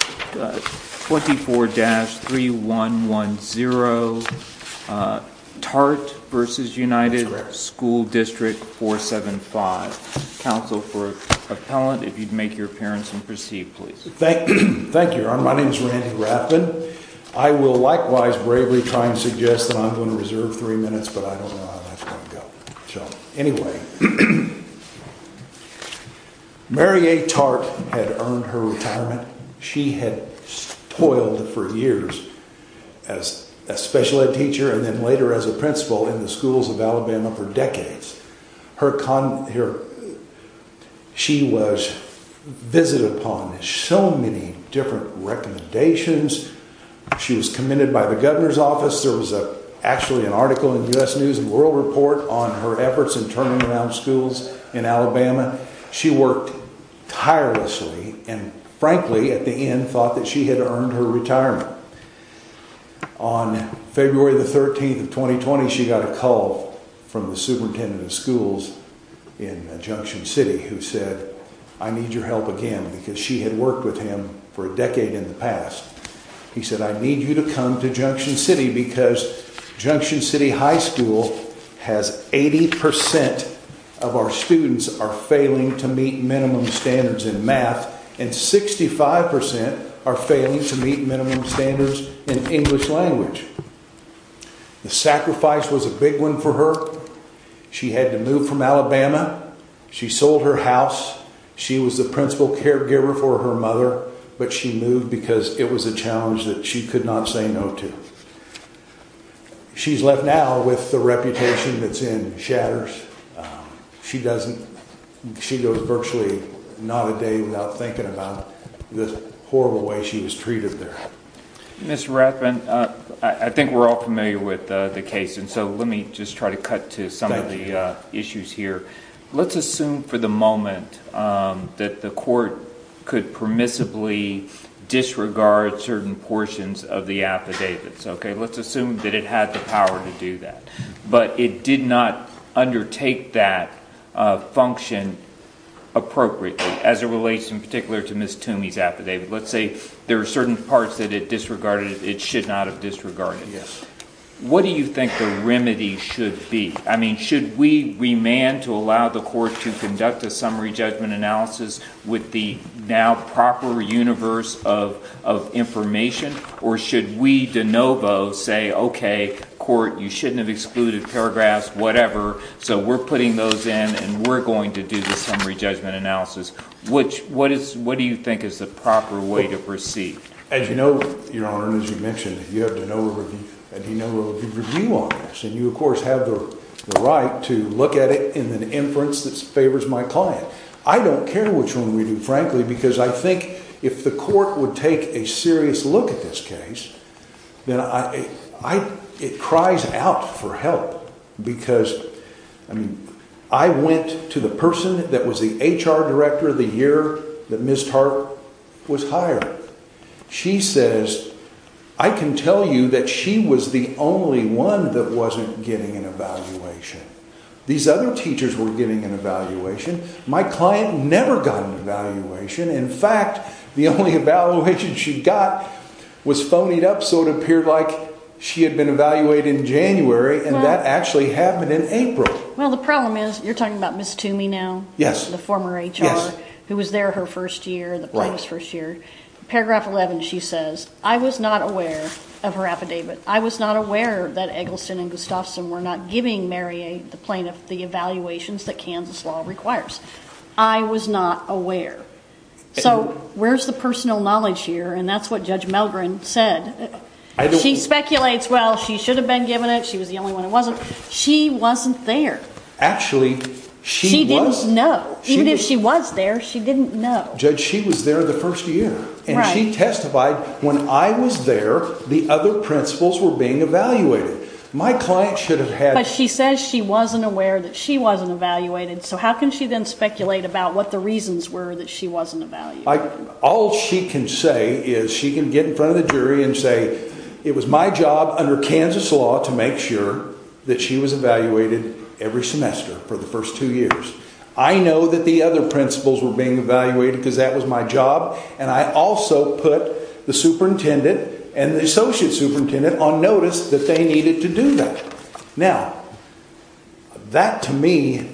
24-3110 Tartt v. Unified School District No. 475. Counsel for appellant, if you'd make your appearance and proceed, please. Thank you, Your Honor. My name is Randy Rathbun. I will likewise bravely try and suggest that I'm going to reserve three minutes, but I don't know how that's going to go. Anyway, Mary A. Tartt had earned her retirement. She had toiled for years as a special ed teacher and then later as a principal in the schools of Alabama for decades. She was visited upon with so many different recommendations. She was commended by the governor's office. There was actually an article in U.S. News & World Report on her efforts in turning around schools in Alabama. She worked tirelessly and frankly, at the end, thought that she had earned her retirement. On February 13, 2020, she got a call from the superintendent of schools in Junction City who said, I need your help again because she had worked with him for a decade in the past. He said, I need you to come to Junction City because Junction City High School has 80% of our students are failing to meet minimum standards in math and 65% are failing to meet minimum standards in English language. The sacrifice was a big one for her. She had to move from Alabama. She sold her house. She was the principal caregiver for her mother, but she moved because it was a challenge that she could not say no to. She's left now with the reputation that's in shatters. She goes virtually not a day without thinking about the horrible way she was treated there. Mr. Ratman, I think we're all familiar with the case, so let me just try to cut to some of the issues here. Let's assume for the moment that the court could permissibly disregard certain portions of the affidavits. Let's assume that it had the power to do that, but it did not undertake that function appropriately as it relates in particular to Ms. Toomey's affidavit. Let's say there are certain parts that it disregarded. It should not have disregarded it. What do you think the remedy should be? Should we remand to allow the court to conduct a summary judgment analysis with the now proper universe of information, or should we de novo say, okay, court, you shouldn't have excluded paragraphs, whatever, so we're putting those in and we're going to do the summary judgment analysis? What do you think is the proper way to proceed? As you know, Your Honor, and as you mentioned, you have de novo review on this, and you, of course, have the right to look at it in an inference that favors my client. I don't care which one we do, frankly, because I think if the court would take a serious look at this case, then it cries out for help because I went to the person that was the HR director the year that Ms. Tarp was hired. She says, I can tell you that she was the only one that wasn't getting an evaluation. These other teachers were getting an evaluation. My client never got an evaluation. In fact, the only evaluation she got was phonied up, so it appeared like she had been evaluated in January, and that actually happened in April. Well, the problem is you're talking about Ms. Toomey now, the former HR, who was there her first year, the plaintiff's first year. Paragraph 11, she says, I was not aware of her affidavit. I was not aware that Eggleston and Gustafson were not giving Mariette, the plaintiff, the evaluations that Kansas law requires. I was not aware. So where's the personal knowledge here? And that's what Judge Melgren said. She speculates, well, she should have been given it, she was the only one that wasn't. She wasn't there. Actually, she was. She didn't know. Even if she was there, she didn't know. Judge, she was there the first year, and she testified, when I was there, the other principals were being evaluated. My client should have had. But she says she wasn't aware that she wasn't evaluated, so how can she then speculate about what the reasons were that she wasn't evaluated? All she can say is she can get in front of the jury and say, it was my job under Kansas law to make sure that she was evaluated every semester for the first two years. I know that the other principals were being evaluated because that was my job, and I also put the superintendent and the associate superintendent on notice that they needed to do that. Now, that to me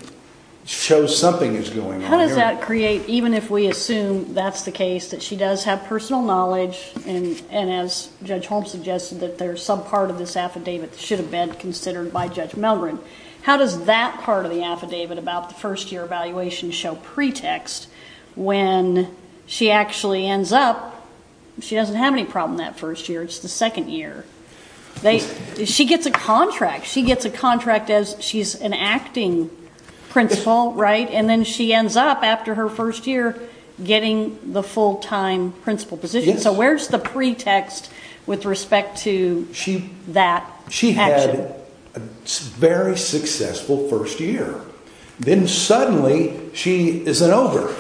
shows something is going on here. How does that create, even if we assume that's the case, that she does have personal knowledge, and as Judge Holmes suggested, that there's some part of this affidavit that should have been considered by Judge Melgren. How does that part of the affidavit about the first year evaluation show pretext when she actually ends up, she doesn't have any problem that first year, it's the second year. She gets a contract. She gets a contract as she's an acting principal, right? And then she ends up after her first year getting the full-time principal position. So where's the pretext with respect to that action? She had a very successful first year. Then suddenly she isn't over.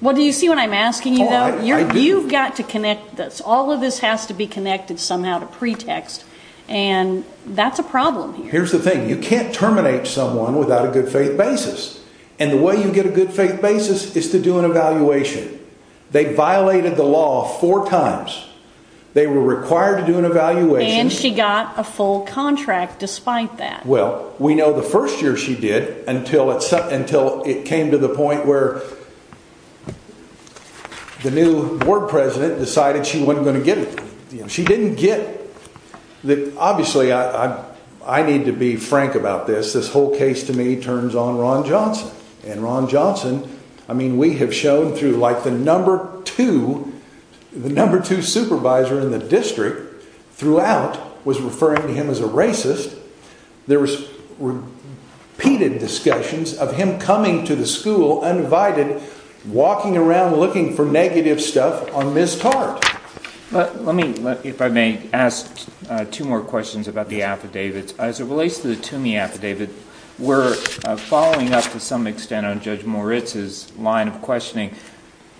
Well, do you see what I'm asking you, though? You've got to connect this. All of this has to be connected somehow to pretext, and that's a problem here. Here's the thing. You can't terminate someone without a good faith basis, and the way you get a good faith basis is to do an evaluation. They violated the law four times. They were required to do an evaluation. And she got a full contract despite that. Well, we know the first year she did until it came to the point where the new board president decided she wasn't going to get it. She didn't get it. Obviously, I need to be frank about this. This whole case to me turns on Ron Johnson, and Ron Johnson, I mean, we have shown through like the number two supervisor in the district throughout was referring to him as a racist. There were repeated discussions of him coming to the school uninvited, walking around looking for negative stuff on Ms. Tartt. Let me, if I may, ask two more questions about the affidavits. As it relates to the Toomey affidavit, we're following up to some extent on Judge Moritz's line of questioning.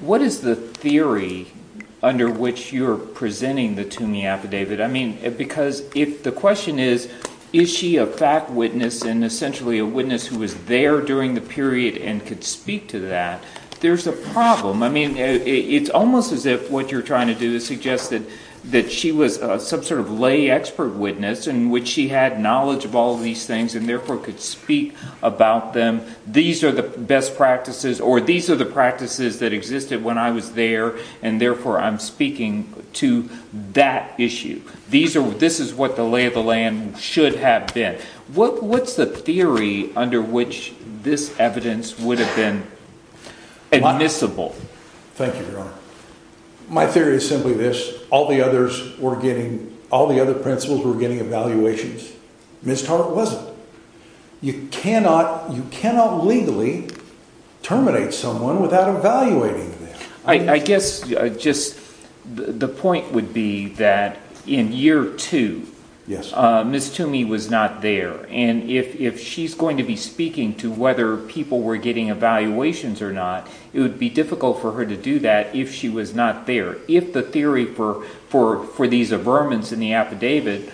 What is the theory under which you're presenting the Toomey affidavit? I mean, because if the question is, is she a fact witness and essentially a witness who was there during the period and could speak to that, there's a problem. I mean, it's almost as if what you're trying to do is suggest that she was some sort of lay expert witness in which she had knowledge of all of these things and therefore could speak about them. These are the best practices, or these are the practices that existed when I was there, and therefore I'm speaking to that issue. This is what the lay of the land should have been. What's the theory under which this evidence would have been admissible? Thank you, Your Honor. My theory is simply this. All the other principals were getting evaluations. Ms. Tartt wasn't. You cannot legally terminate someone without evaluating them. I guess just the point would be that in year two, Ms. Toomey was not there. And if she's going to be speaking to whether people were getting evaluations or not, it would be difficult for her to do that if she was not there. If the theory for these averments in the affidavit,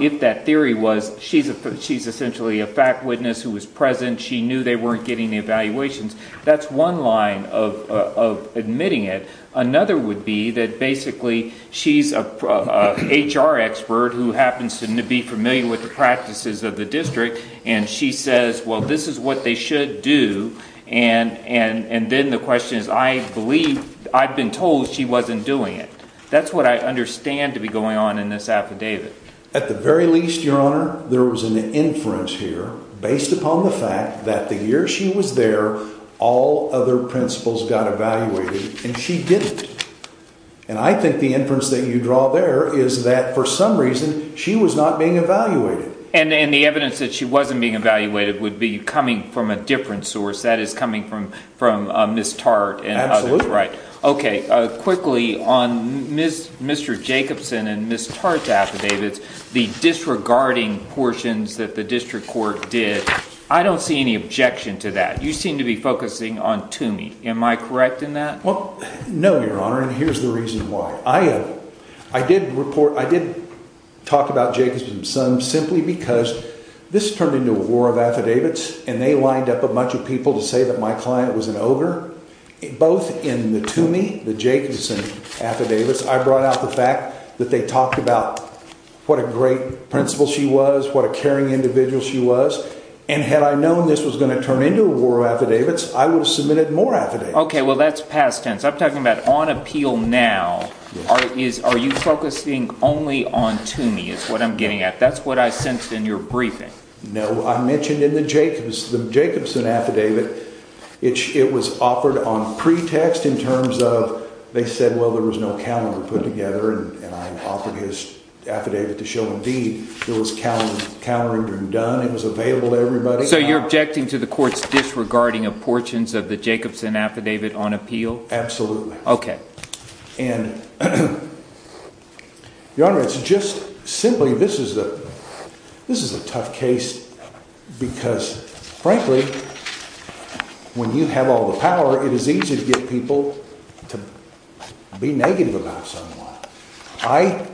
if that theory was she's essentially a fact witness who was present, she knew they weren't getting the evaluations, that's one line of admitting it. Another would be that basically she's an HR expert who happens to be familiar with the practices of the district, and she says, well, this is what they should do. And then the question is, I believe I've been told she wasn't doing it. That's what I understand to be going on in this affidavit. At the very least, Your Honor, there was an inference here based upon the fact that the year she was there, all other principals got evaluated and she didn't. And I think the inference that you draw there is that for some reason she was not being evaluated. And the evidence that she wasn't being evaluated would be coming from a different source, that is coming from Ms. Tartt. Okay, quickly, on Mr. Jacobson and Ms. Tartt's affidavits, the disregarding portions that the district court did, I don't see any objection to that. You seem to be focusing on Toomey. Am I correct in that? Well, no, Your Honor, and here's the reason why. I did talk about Jacobson and Sons simply because this turned into a war of affidavits, and they lined up a bunch of people to say that my client was an ogre. Both in the Toomey, the Jacobson affidavits, I brought out the fact that they talked about what a great principal she was, what a caring individual she was. And had I known this was going to turn into a war of affidavits, I would have submitted more affidavits. Okay, well, that's past tense. I'm talking about on appeal now. Are you focusing only on Toomey is what I'm getting at. That's what I sensed in your briefing. No, I mentioned in the Jacobson affidavit, it was offered on pretext in terms of, they said, well, there was no counter put together. And I offered his affidavit to show, indeed, there was countering being done. It was available to everybody. So you're objecting to the court's disregarding of portions of the Jacobson affidavit on appeal. Absolutely. Okay. And your honor, it's just simply this is the this is a tough case because, frankly, when you have all the power, it is easy to get people to be negative about someone. I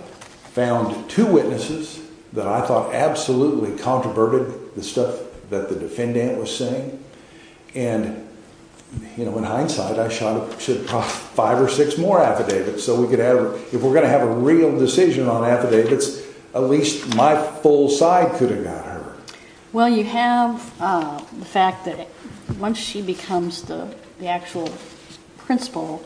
found two witnesses that I thought absolutely controverted the stuff that the defendant was saying. And, you know, in hindsight, I shot five or six more affidavits. So we could have if we're going to have a real decision on affidavits, at least my full side could have got her. Well, you have the fact that once she becomes the actual principal,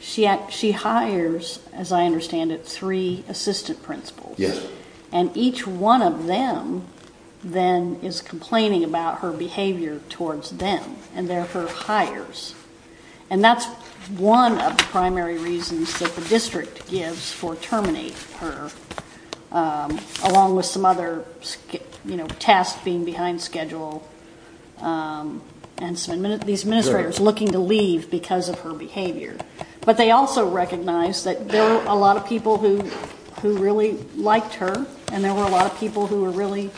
she she hires, as I understand it, three assistant principal. Yes. And each one of them then is complaining about her behavior towards them and therefore hires. And that's one of the primary reasons that the district gives for terminate her, along with some other, you know, tasks being behind schedule. And some of these administrators looking to leave because of her behavior. But they also recognize that there are a lot of people who who really liked her and there were a lot of people who were really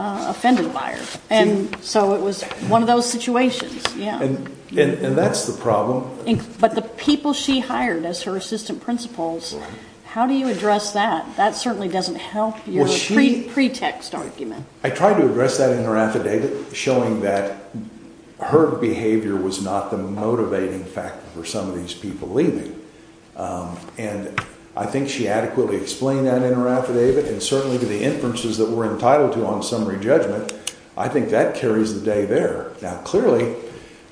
offended by her. And so it was one of those situations. Yeah. And that's the problem. But the people she hired as her assistant principals, how do you address that? That certainly doesn't help your pretext argument. I tried to address that in her affidavit, showing that her behavior was not the motivating factor for some of these people leaving. And I think she adequately explained that in her affidavit. And certainly to the inferences that we're entitled to on summary judgment, I think that carries the day there. Now, clearly,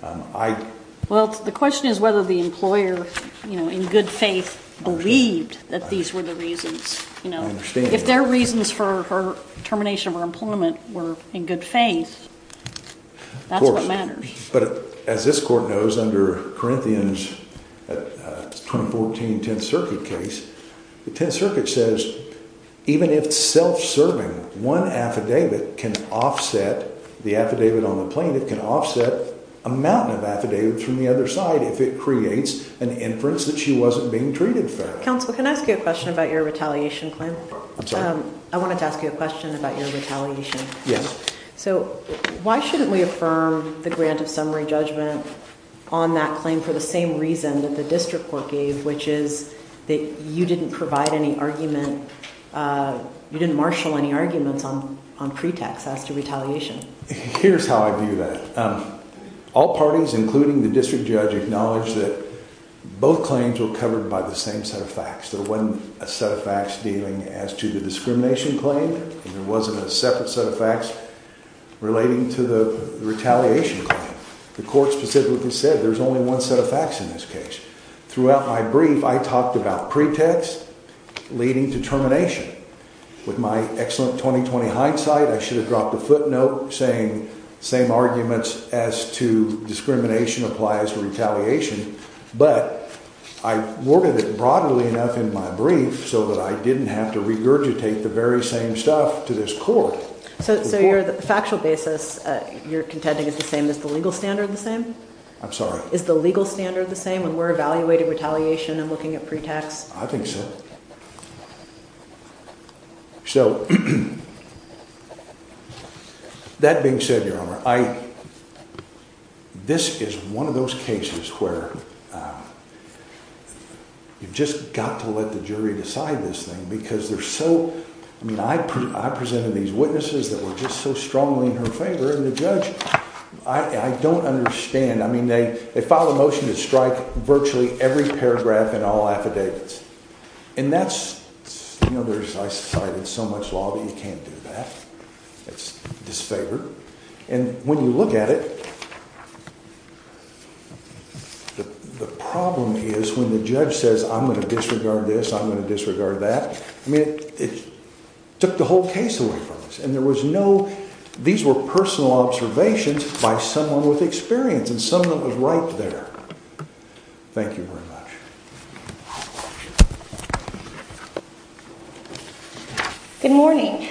I. Well, the question is whether the employer, you know, in good faith believed that these were the reasons, you know, if their reasons for her termination of her employment were in good faith, that's what matters. But as this court knows, under Corinthians 2014, 10th Circuit case, the 10th Circuit says even if self-serving one affidavit can offset the affidavit on the plane, it can offset a mountain of affidavits from the other side if it creates an inference that she wasn't being treated fair. Counsel, can I ask you a question about your retaliation claim? I wanted to ask you a question about your retaliation. Yes. So why shouldn't we affirm the grant of summary judgment on that claim for the same reason that the district court gave, which is that you didn't provide any argument? You didn't marshal any arguments on on pretext as to retaliation. Here's how I view that. All parties, including the district judge, acknowledge that both claims were covered by the same set of facts. There wasn't a set of facts dealing as to the discrimination claim. There wasn't a separate set of facts relating to the retaliation claim. The court specifically said there's only one set of facts in this case. Throughout my brief, I talked about pretext leading to termination. With my excellent 2020 hindsight, I should have dropped a footnote saying same arguments as to discrimination applies to retaliation. But I worded it broadly enough in my brief so that I didn't have to regurgitate the very same stuff to this court. So your factual basis you're contending is the same as the legal standard, the same? I'm sorry. Is the legal standard the same when we're evaluating retaliation and looking at pretext? I think so. So that being said, your honor, I this is one of those cases where you've just got to let the jury decide this thing, because they're so I mean, I, I presented these witnesses that were just so strongly in her favor. I don't understand. I mean, they they filed a motion to strike virtually every paragraph in all affidavits. And that's, you know, there's so much law that you can't do that. It's disfavored. And when you look at it, the problem is when the judge says, I'm going to disregard this, I'm going to disregard that. I mean, it took the whole case away from us. And there was no these were personal observations by someone with experience and someone was right there. Thank you very much. Good morning.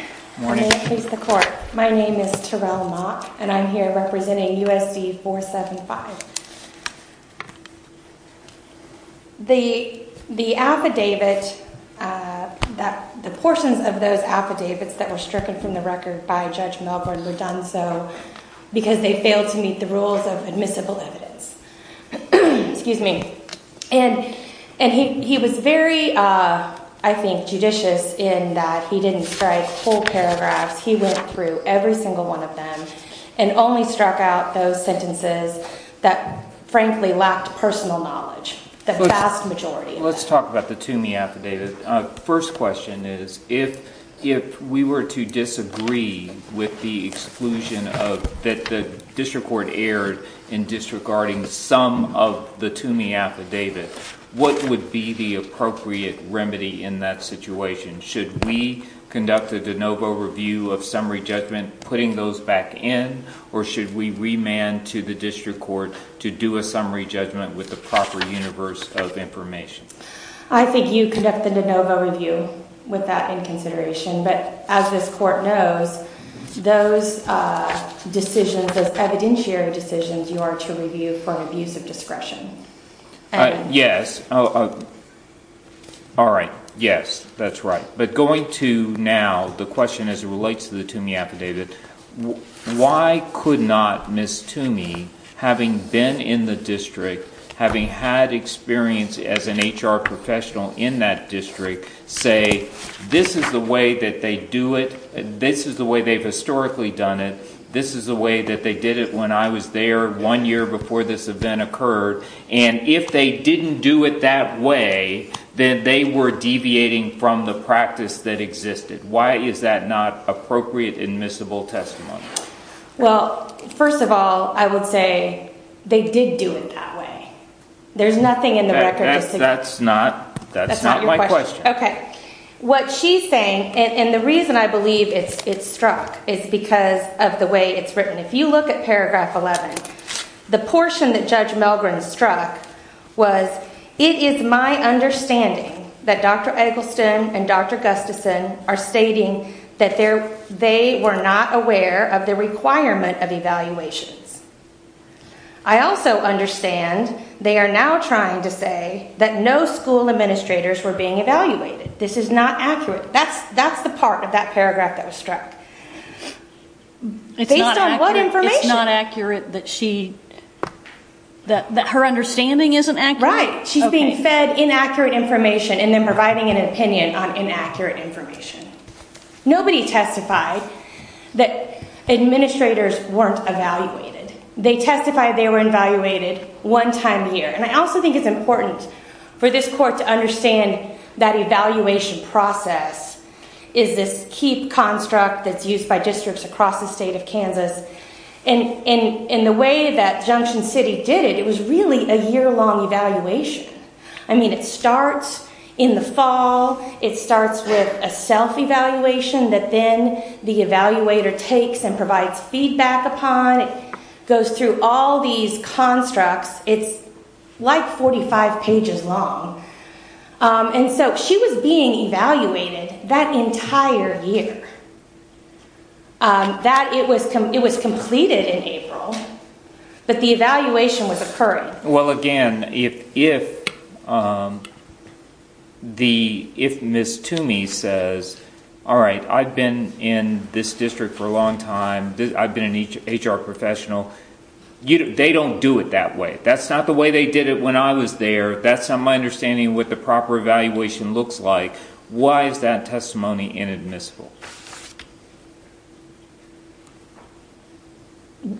My name is Terrell Mock, and I'm here representing USD 475. The the affidavit that the portions of those affidavits that were stricken from the record by Judge Melbourne were done so because they failed to meet the rules of admissible evidence. Excuse me. And and he he was very, I think, judicious in that he didn't strike full paragraphs. He went through every single one of them and only struck out those sentences that, frankly, lacked personal knowledge. Let's talk about the to me affidavit. First question is, if if we were to disagree with the exclusion of that, the district court erred in disregarding some of the to me affidavit, what would be the appropriate remedy in that situation? Should we conduct the de novo review of summary judgment, putting those back in? Or should we remand to the district court to do a summary judgment with the proper universe of information? I think you conduct the de novo review with that in consideration. But as this court knows, those decisions as evidentiary decisions, you are to review for an abuse of discretion. Yes. All right. Yes, that's right. But going to now the question as it relates to the to me affidavit, why could not miss to me having been in the district, having had experience as an H.R. professional in that district? Well, first of all, I would say they did do it that way. There's nothing in the record. That's not that's not my question. Okay. What she's saying and the reason I believe it's it's struck is because of the way it's written. If you look at paragraph 11, the portion that Judge Milgram struck was it is my understanding that Dr. Eggleston and Dr. Gustafson are stating that there they were not aware of the requirement of evaluations. I also understand they are now trying to say that no school administrators were being evaluated. This is not accurate. That's that's the part of that paragraph that was struck. It's based on what information? It's not accurate that she that her understanding isn't accurate. Right. She's being fed inaccurate information and then providing an opinion on inaccurate information. Nobody testified that administrators weren't evaluated. They testified they were evaluated one time here. And I also think it's important for this court to understand that evaluation process is this key construct that's used by districts across the state of Kansas. And in the way that Junction City did it, it was really a year long evaluation. I mean, it starts in the fall. It starts with a self-evaluation that then the evaluator takes and provides feedback upon. It goes through all these constructs. It's like 45 pages long. And so she was being evaluated that entire year that it was it was completed in April. But the evaluation was occurring. Well, again, if if the if Miss Toomey says, all right, I've been in this district for a long time, I've been an HR professional, they don't do it that way. That's not the way they did it when I was there. That's not my understanding what the proper evaluation looks like. Why is that testimony inadmissible?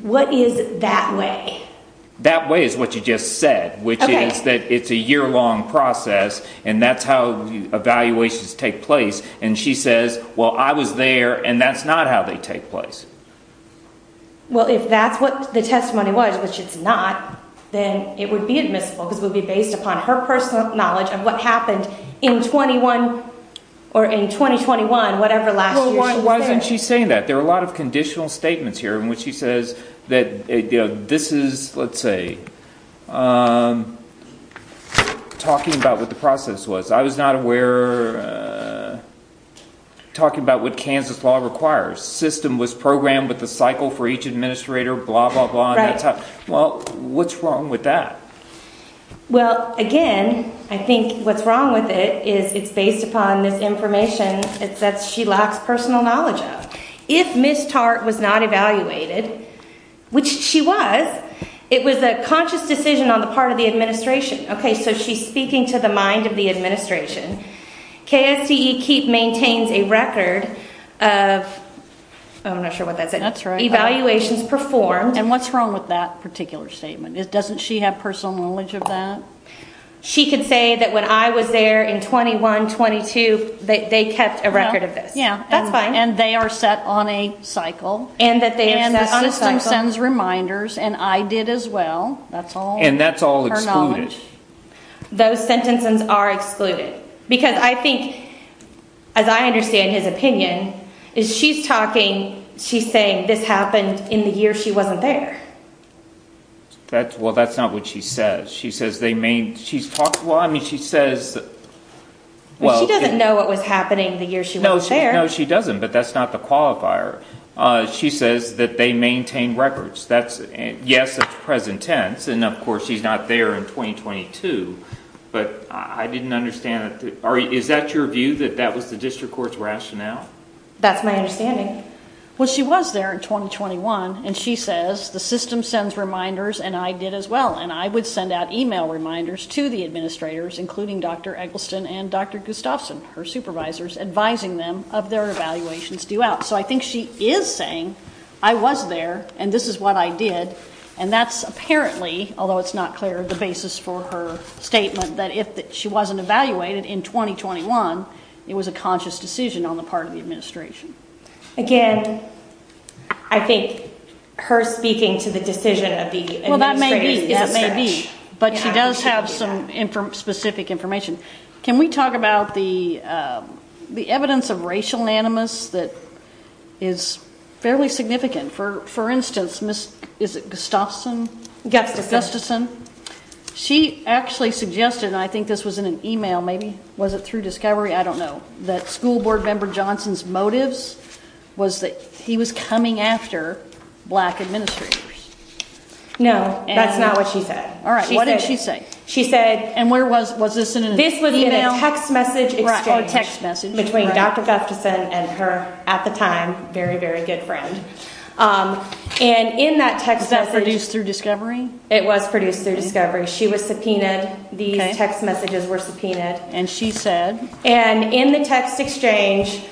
What is that way? That way is what you just said, which is that it's a year long process. And that's how evaluations take place. And she says, well, I was there and that's not how they take place. Well, if that's what the testimony was, which it's not, then it would be admissible because it would be based upon her personal knowledge of what happened in 21 or in 2021, whatever. Why isn't she saying that there are a lot of conditional statements here in which she says that this is, let's say, talking about what the process was. I was not aware. Talking about what Kansas law requires. System was programmed with the cycle for each administrator, blah, blah, blah. Well, what's wrong with that? Well, again, I think what's wrong with it is it's based upon this information that she lacks personal knowledge of. If Ms. Tartt was not evaluated, which she was, it was a conscious decision on the part of the administration. Okay, so she's speaking to the mind of the administration. KSCE keep maintains a record of, I'm not sure what that is, evaluations performed. And what's wrong with that particular statement? Doesn't she have personal knowledge of that? Well, she could say that when I was there in 21, 22, they kept a record of this. Yeah, that's fine. And they are set on a cycle and that the system sends reminders. And I did as well. That's all. And that's all excluded. Those sentences are excluded. Because I think, as I understand his opinion, is she's talking, she's saying this happened in the year she wasn't there. That's well, that's not what she says. She says they mean she's talking. Well, I mean, she says, well, she doesn't know what was happening the year. She knows. She knows. She doesn't. But that's not the qualifier. She says that they maintain records. That's yes. That's present tense. And of course, she's not there in 2022. But I didn't understand that. Is that your view that that was the district court's rationale? That's my understanding. Well, she was there in 2021. And she says the system sends reminders. And I did as well. And I would send out email reminders to the administrators, including Dr. Eggleston and Dr. Gustafson, her supervisors, advising them of their evaluations due out. So I think she is saying I was there and this is what I did. And that's apparently, although it's not clear, the basis for her statement that if she wasn't evaluated in 2021, it was a conscious decision on the part of the administration. Again, I think her speaking to the decision of the well, that may be that may be. But she does have some specific information. Can we talk about the the evidence of racial animus that is fairly significant? For for instance, Miss Gustafson, Gustafson, she actually suggested and I think this was in an email, maybe was it through discovery? I don't know that school board member Johnson's motives was that he was coming after black administrators. No, that's not what she said. All right. What did she say? She said. And where was was this in this email text message text message between Dr. Gustafson and her at the time? Very, very good friend. And in that text that produced through discovery, it was produced through discovery. She was subpoenaed. The text messages were subpoenaed. And she said. And in the text exchange,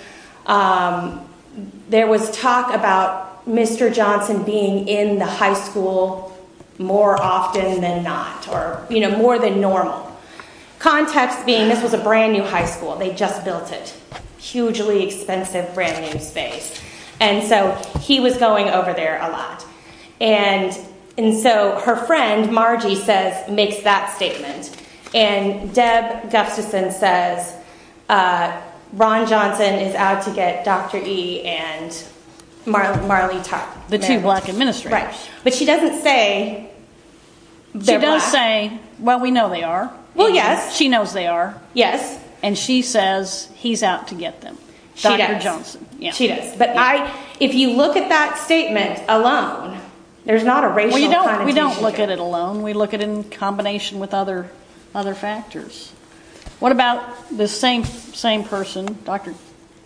there was talk about Mr. Johnson being in the high school more often than not or more than normal. Context being this was a brand new high school. They just built it hugely expensive, brand new space. And so he was going over there a lot. And and so her friend, Margie says, makes that statement. And Deb Gustafson says Ron Johnson is out to get Dr. E. And Marley Marley, the two black administrators. But she doesn't say. They don't say, well, we know they are. Well, yes, she knows they are. Yes. And she says he's out to get them. Dr. Johnson. Yes, she does. But I if you look at that statement alone, there's not a race. We don't look at it alone. We look at it in combination with other other factors. What about the same same person, Dr.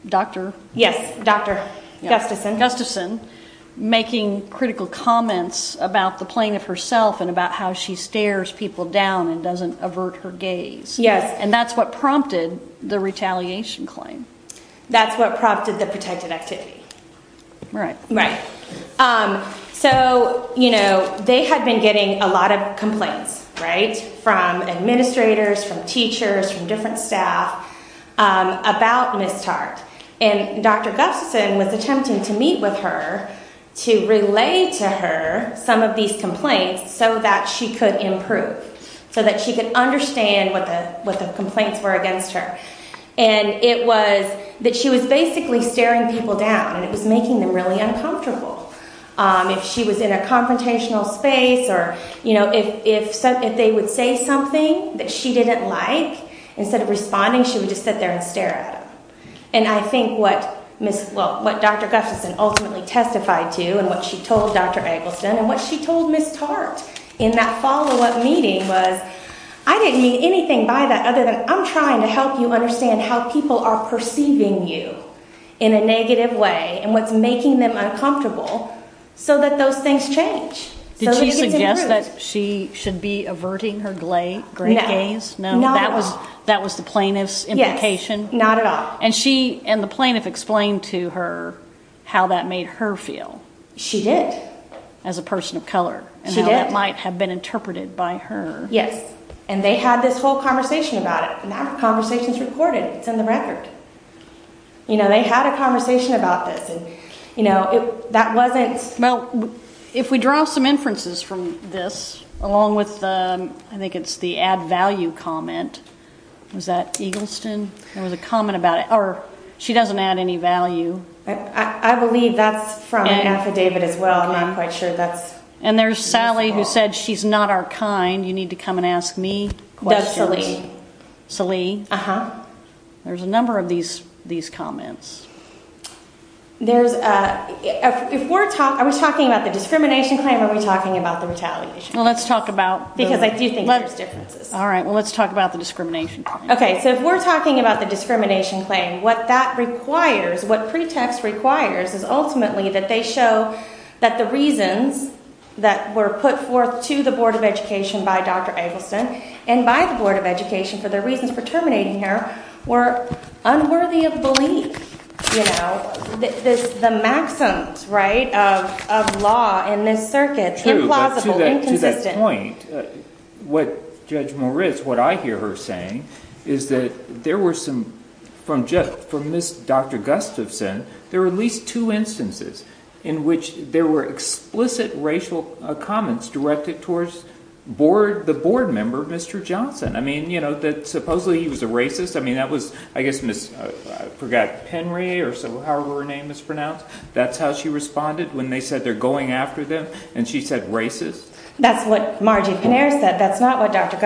Dr. Yes, Dr. Gustafson Gustafson making critical comments about the plane of herself and about how she stares people down and doesn't avert her gaze. Yes. And that's what prompted the retaliation claim. That's what prompted the protected activity. Right. Right. So, you know, they had been getting a lot of complaints, right, from administrators, from teachers, from different staff about Miss Tartt. And Dr. Gustafson was attempting to meet with her to relay to her some of these complaints so that she could improve, so that she could understand what the what the complaints were against her. And it was that she was basically staring people down and it was making them really uncomfortable. If she was in a confrontational space or, you know, if if they would say something that she didn't like, instead of responding, she would just sit there and stare. And I think what Miss what Dr. Gustafson ultimately testified to and what she told Dr. Eggleston and what she told Miss Tartt in that follow up meeting was I didn't mean anything by that other than I'm trying to help you understand how people are perceiving you in a negative way and what's making them uncomfortable so that those things change. Did she suggest that she should be averting her great gaze? No, that was that was the plaintiff's implication? Not at all. And she and the plaintiff explained to her how that made her feel. She did. As a person of color. She did. And how that might have been interpreted by her. Yes. And they had this whole conversation about it. And that conversation's recorded. It's in the record. You know, they had a conversation about this and, you know, that wasn't. Well, if we draw some inferences from this, along with I think it's the add value comment. Was that Eggleston? There was a comment about it. Or she doesn't add any value. I believe that's from an affidavit as well. I'm not quite sure that's. And there's Sally who said she's not our kind. You need to come and ask me. That's Sally. Sally. Uh huh. There's a number of these these comments. There's if we're talking about the discrimination claim, are we talking about the retaliation? Well, let's talk about. Because I do think there's differences. All right. Well, let's talk about the discrimination. OK, so if we're talking about the discrimination claim, what that requires, what pretext requires is ultimately that they show that the reasons that were put forth to the Board of Education by Dr. Eggleston and by the Board of Education for their reasons for terminating her were unworthy of belief. The maxims right of law in this circuit. True. To that point, what Judge Moritz, what I hear her saying is that there were some from just from this. There are at least two instances in which there were explicit racial comments directed towards board the board member, Mr. Johnson. I mean, you know that supposedly he was a racist. I mean, that was, I guess, Miss forgot Henry or so. However, her name is pronounced. That's how she responded when they said they're going after them. And she said racist. That's what Margie said. That's not what Dr.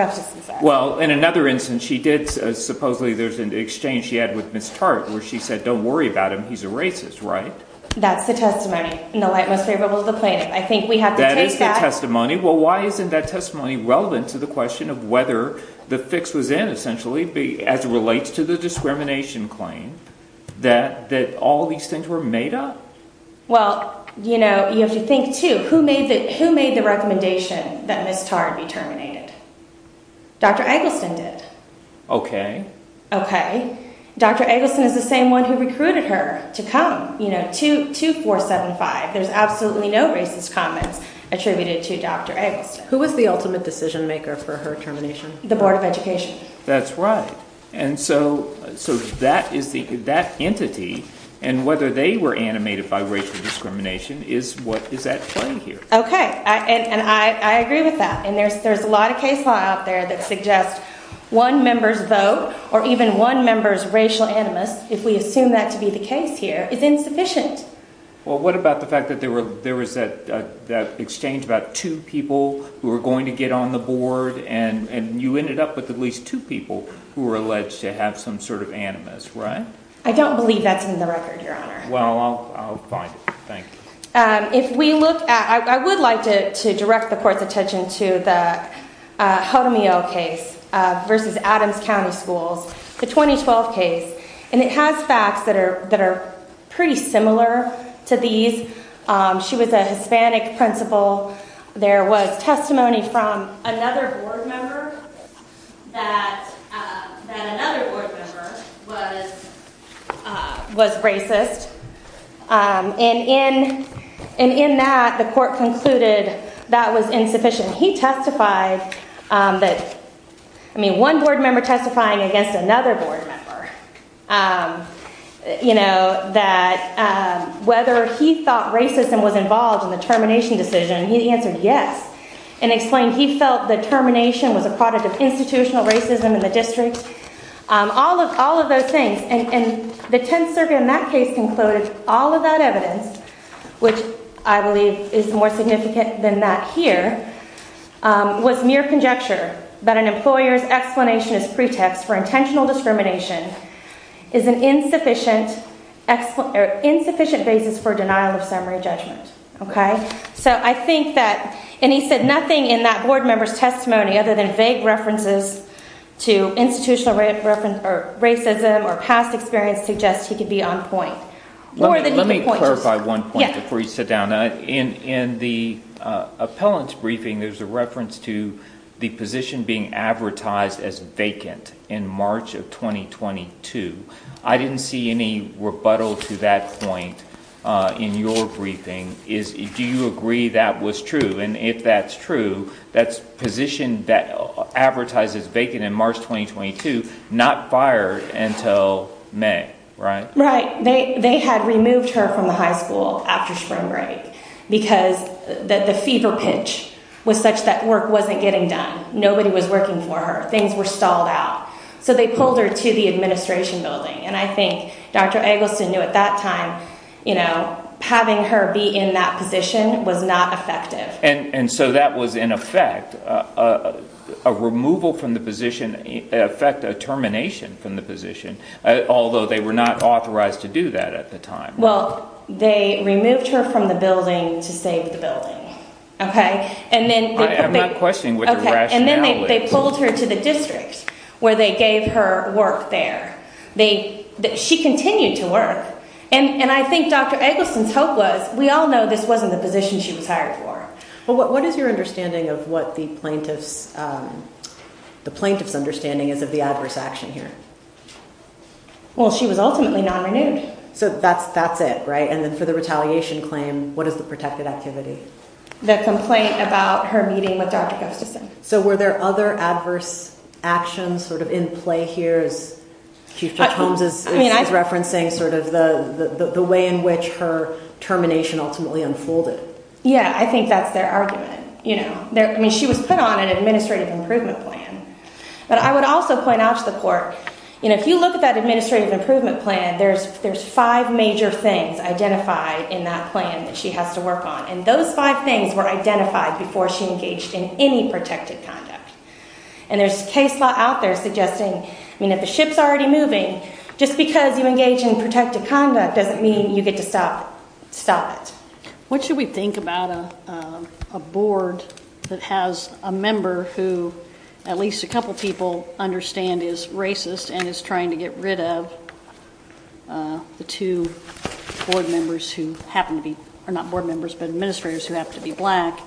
Well, in another instance, she did. Supposedly there's an exchange she had with Miss Tartt where she said, don't worry about him. He's a racist, right? That's the testimony in the light most favorable to the plaintiff. I think we have that is the testimony. Well, why isn't that testimony relevant to the question of whether the fix was in essentially be as it relates to the discrimination claim that that all these things were made up? Well, you know, you have to think to who made that, who made the recommendation that Miss Tartt be terminated. Dr. Eggleston did. Okay. Dr. Eggleston is the same one who recruited her to come to 2475. There's absolutely no racist comments attributed to Dr. Eggleston, who was the ultimate decision maker for her termination. The Board of Education. That's right. And so so that is the that entity and whether they were animated by racial discrimination is what is at play here. Okay. And I agree with that. And there's there's a lot of case law out there that suggest one member's vote or even one member's racial animus. If we assume that to be the case here is insufficient. Well, what about the fact that there were there was that that exchange about two people who are going to get on the board? And you ended up with at least two people who were alleged to have some sort of animus. Right. I don't believe that's in the record. Your Honor. Well, I'll find it. Thank you. If we look at I would like to to direct the court's attention to the Jaramillo case versus Adams County Schools, the 2012 case. And it has facts that are that are pretty similar to these. She was a Hispanic principal. There was testimony from another board member that that another board member was was racist. And in and in that the court concluded that was insufficient. He testified that I mean one board member testifying against another board member. You know, that whether he thought racism was involved in the termination decision, he answered yes and explained he felt the termination was a product of institutional racism in the district. All of all of those things. And the 10th survey in that case concluded all of that evidence, which I believe is more significant than that here, was mere conjecture that an employer's explanation is pretext for intentional discrimination is an insufficient or insufficient basis for denial of summary judgment. OK, so I think that and he said nothing in that board member's testimony other than vague references to institutional reference or racism or past experience suggests he could be on point. Let me clarify one point before you sit down in in the appellant's briefing. There's a reference to the position being advertised as vacant in March of twenty twenty two. I didn't see any rebuttal to that point in your briefing. Is do you agree that was true? And if that's true, that's position that advertises vacant in March twenty twenty two, not fired until May. Right. Right. They they had removed her from the high school after spring break because that the fever pitch was such that work wasn't getting done. Nobody was working for her. Things were stalled out. So they pulled her to the administration building. And I think Dr. Eggleston knew at that time, you know, having her be in that position was not effective. And so that was, in effect, a removal from the position effect, a termination from the position, although they were not authorized to do that at the time. Well, they removed her from the building to save the building. OK. And then I have a question. And then they pulled her to the district where they gave her work there. They she continued to work. And I think Dr. Eggleston's hope was we all know this wasn't the position she was hired for. But what is your understanding of what the plaintiffs the plaintiff's understanding is of the adverse action here? Well, she was ultimately not renewed. So that's that's it. Right. And then for the retaliation claim, what is the protected activity? The complaint about her meeting with Dr. Eggleston. So were there other adverse actions sort of in play? Here's Chief Holmes is referencing sort of the way in which her termination ultimately unfolded. Yeah, I think that's their argument. You know, I mean, she was put on an administrative improvement plan. But I would also point out to the court, you know, if you look at that administrative improvement plan, there's there's five major things. Identify in that plan that she has to work on. And those five things were identified before she engaged in any protected conduct. And there's case law out there suggesting, I mean, if the ship's already moving, just because you engage in protected conduct doesn't mean you get to stop. Stop it. What should we think about a board that has a member who at least a couple of people understand is racist and is trying to get rid of. The two board members who happen to be are not board members, but administrators who have to be black.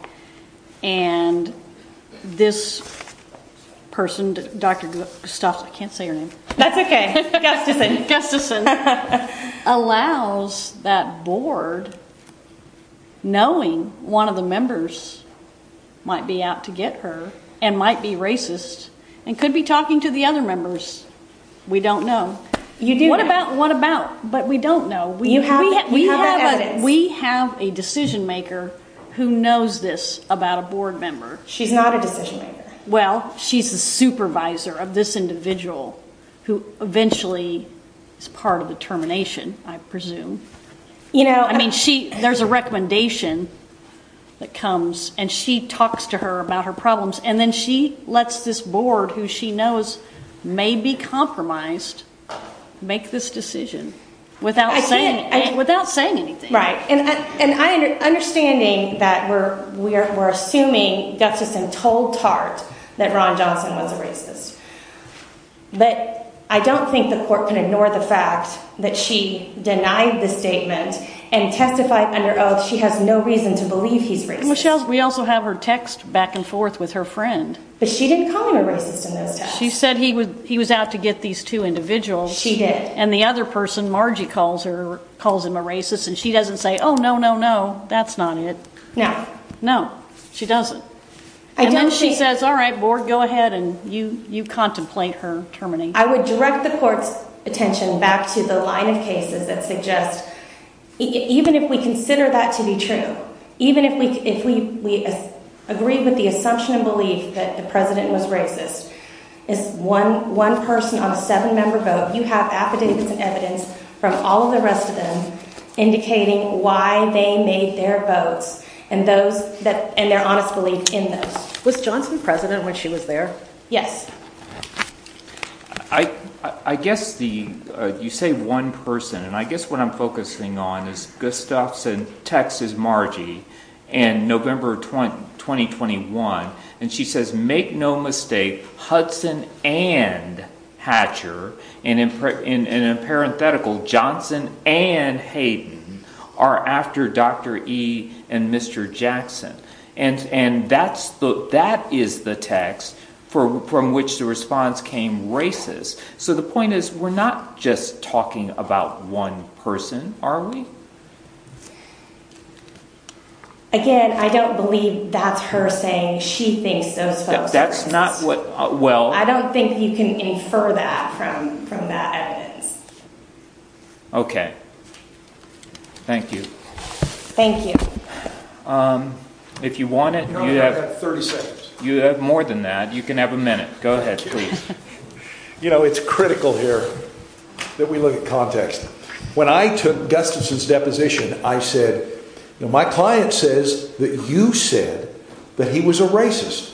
And this person, Dr. Gustafson, can't say your name. That's OK. That's just a guess. This allows that board. Knowing one of the members might be out to get her and might be racist and could be talking to the other members. We don't know. You do. What about what about. But we don't know. We have a decision maker who knows this about a board member. She's not a decision maker. Well, she's the supervisor of this individual who eventually is part of the termination. I presume, you know, I mean, she there's a recommendation that comes and she talks to her about her problems. And then she lets this board, who she knows may be compromised, make this decision without saying without saying anything. Right. And I understanding that we're we're we're assuming Gustafson told Tart that Ron Johnson was a racist. But I don't think the court can ignore the fact that she denied the statement and testified under oath. She has no reason to believe he's. We also have her text back and forth with her friend. But she didn't call him a racist. She said he was he was out to get these two individuals. And the other person, Margie, calls her, calls him a racist. And she doesn't say, oh, no, no, no. That's not it. No, no, she doesn't. And then she says, all right, board, go ahead. And you you contemplate her terminating. I would direct the court's attention back to the line of cases that suggest even if we consider that to be true, even if we if we agree with the assumption and belief that the president was racist, is one one person on a seven member vote. You have affidavits and evidence from all of the rest of them indicating why they made their votes and those that and their honest belief in this. Was Johnson president when she was there? Yes. I, I guess the you say one person. And I guess what I'm focusing on is Gustafson, Texas, Margie, and November 20, 2021. And she says, make no mistake, Hudson and Hatcher. And in in a parenthetical, Johnson and Hayden are after Dr. E and Mr. Jackson. And and that's the that is the text for from which the response came racist. So the point is, we're not just talking about one person, are we? Again, I don't believe that's her saying she thinks that's not what. Well, I don't think you can infer that from from that evidence. OK. Thank you. Thank you. If you want it, you have 30 seconds. You have more than that. You can have a minute. Go ahead, please. You know, it's critical here that we look at context. When I took Gustafson's deposition, I said, my client says that you said that he was a racist.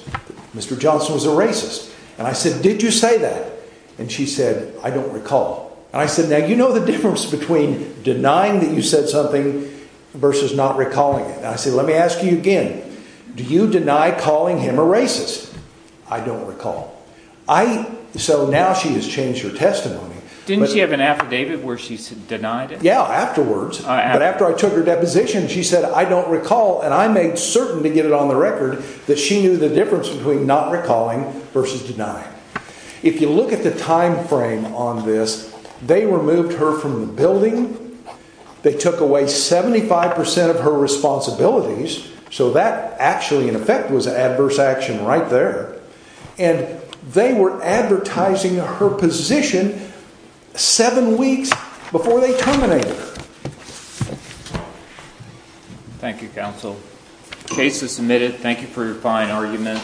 Mr. Johnson was a racist. And I said, did you say that? And she said, I don't recall. And I said, now, you know, the difference between denying that you said something versus not recalling it. And I said, let me ask you again, do you deny calling him a racist? I don't recall. I. So now she has changed her testimony. Didn't she have an affidavit where she denied it? Yeah. Afterwards. But after I took her deposition, she said, I don't recall. And I made certain to get it on the record that she knew the difference between not recalling versus denying. If you look at the time frame on this, they removed her from the building. They took away 75 percent of her responsibilities. So that actually, in effect, was adverse action right there. And they were advertising her position seven weeks before they terminated. Thank you, counsel. Case is submitted. Thank you for your fine argument.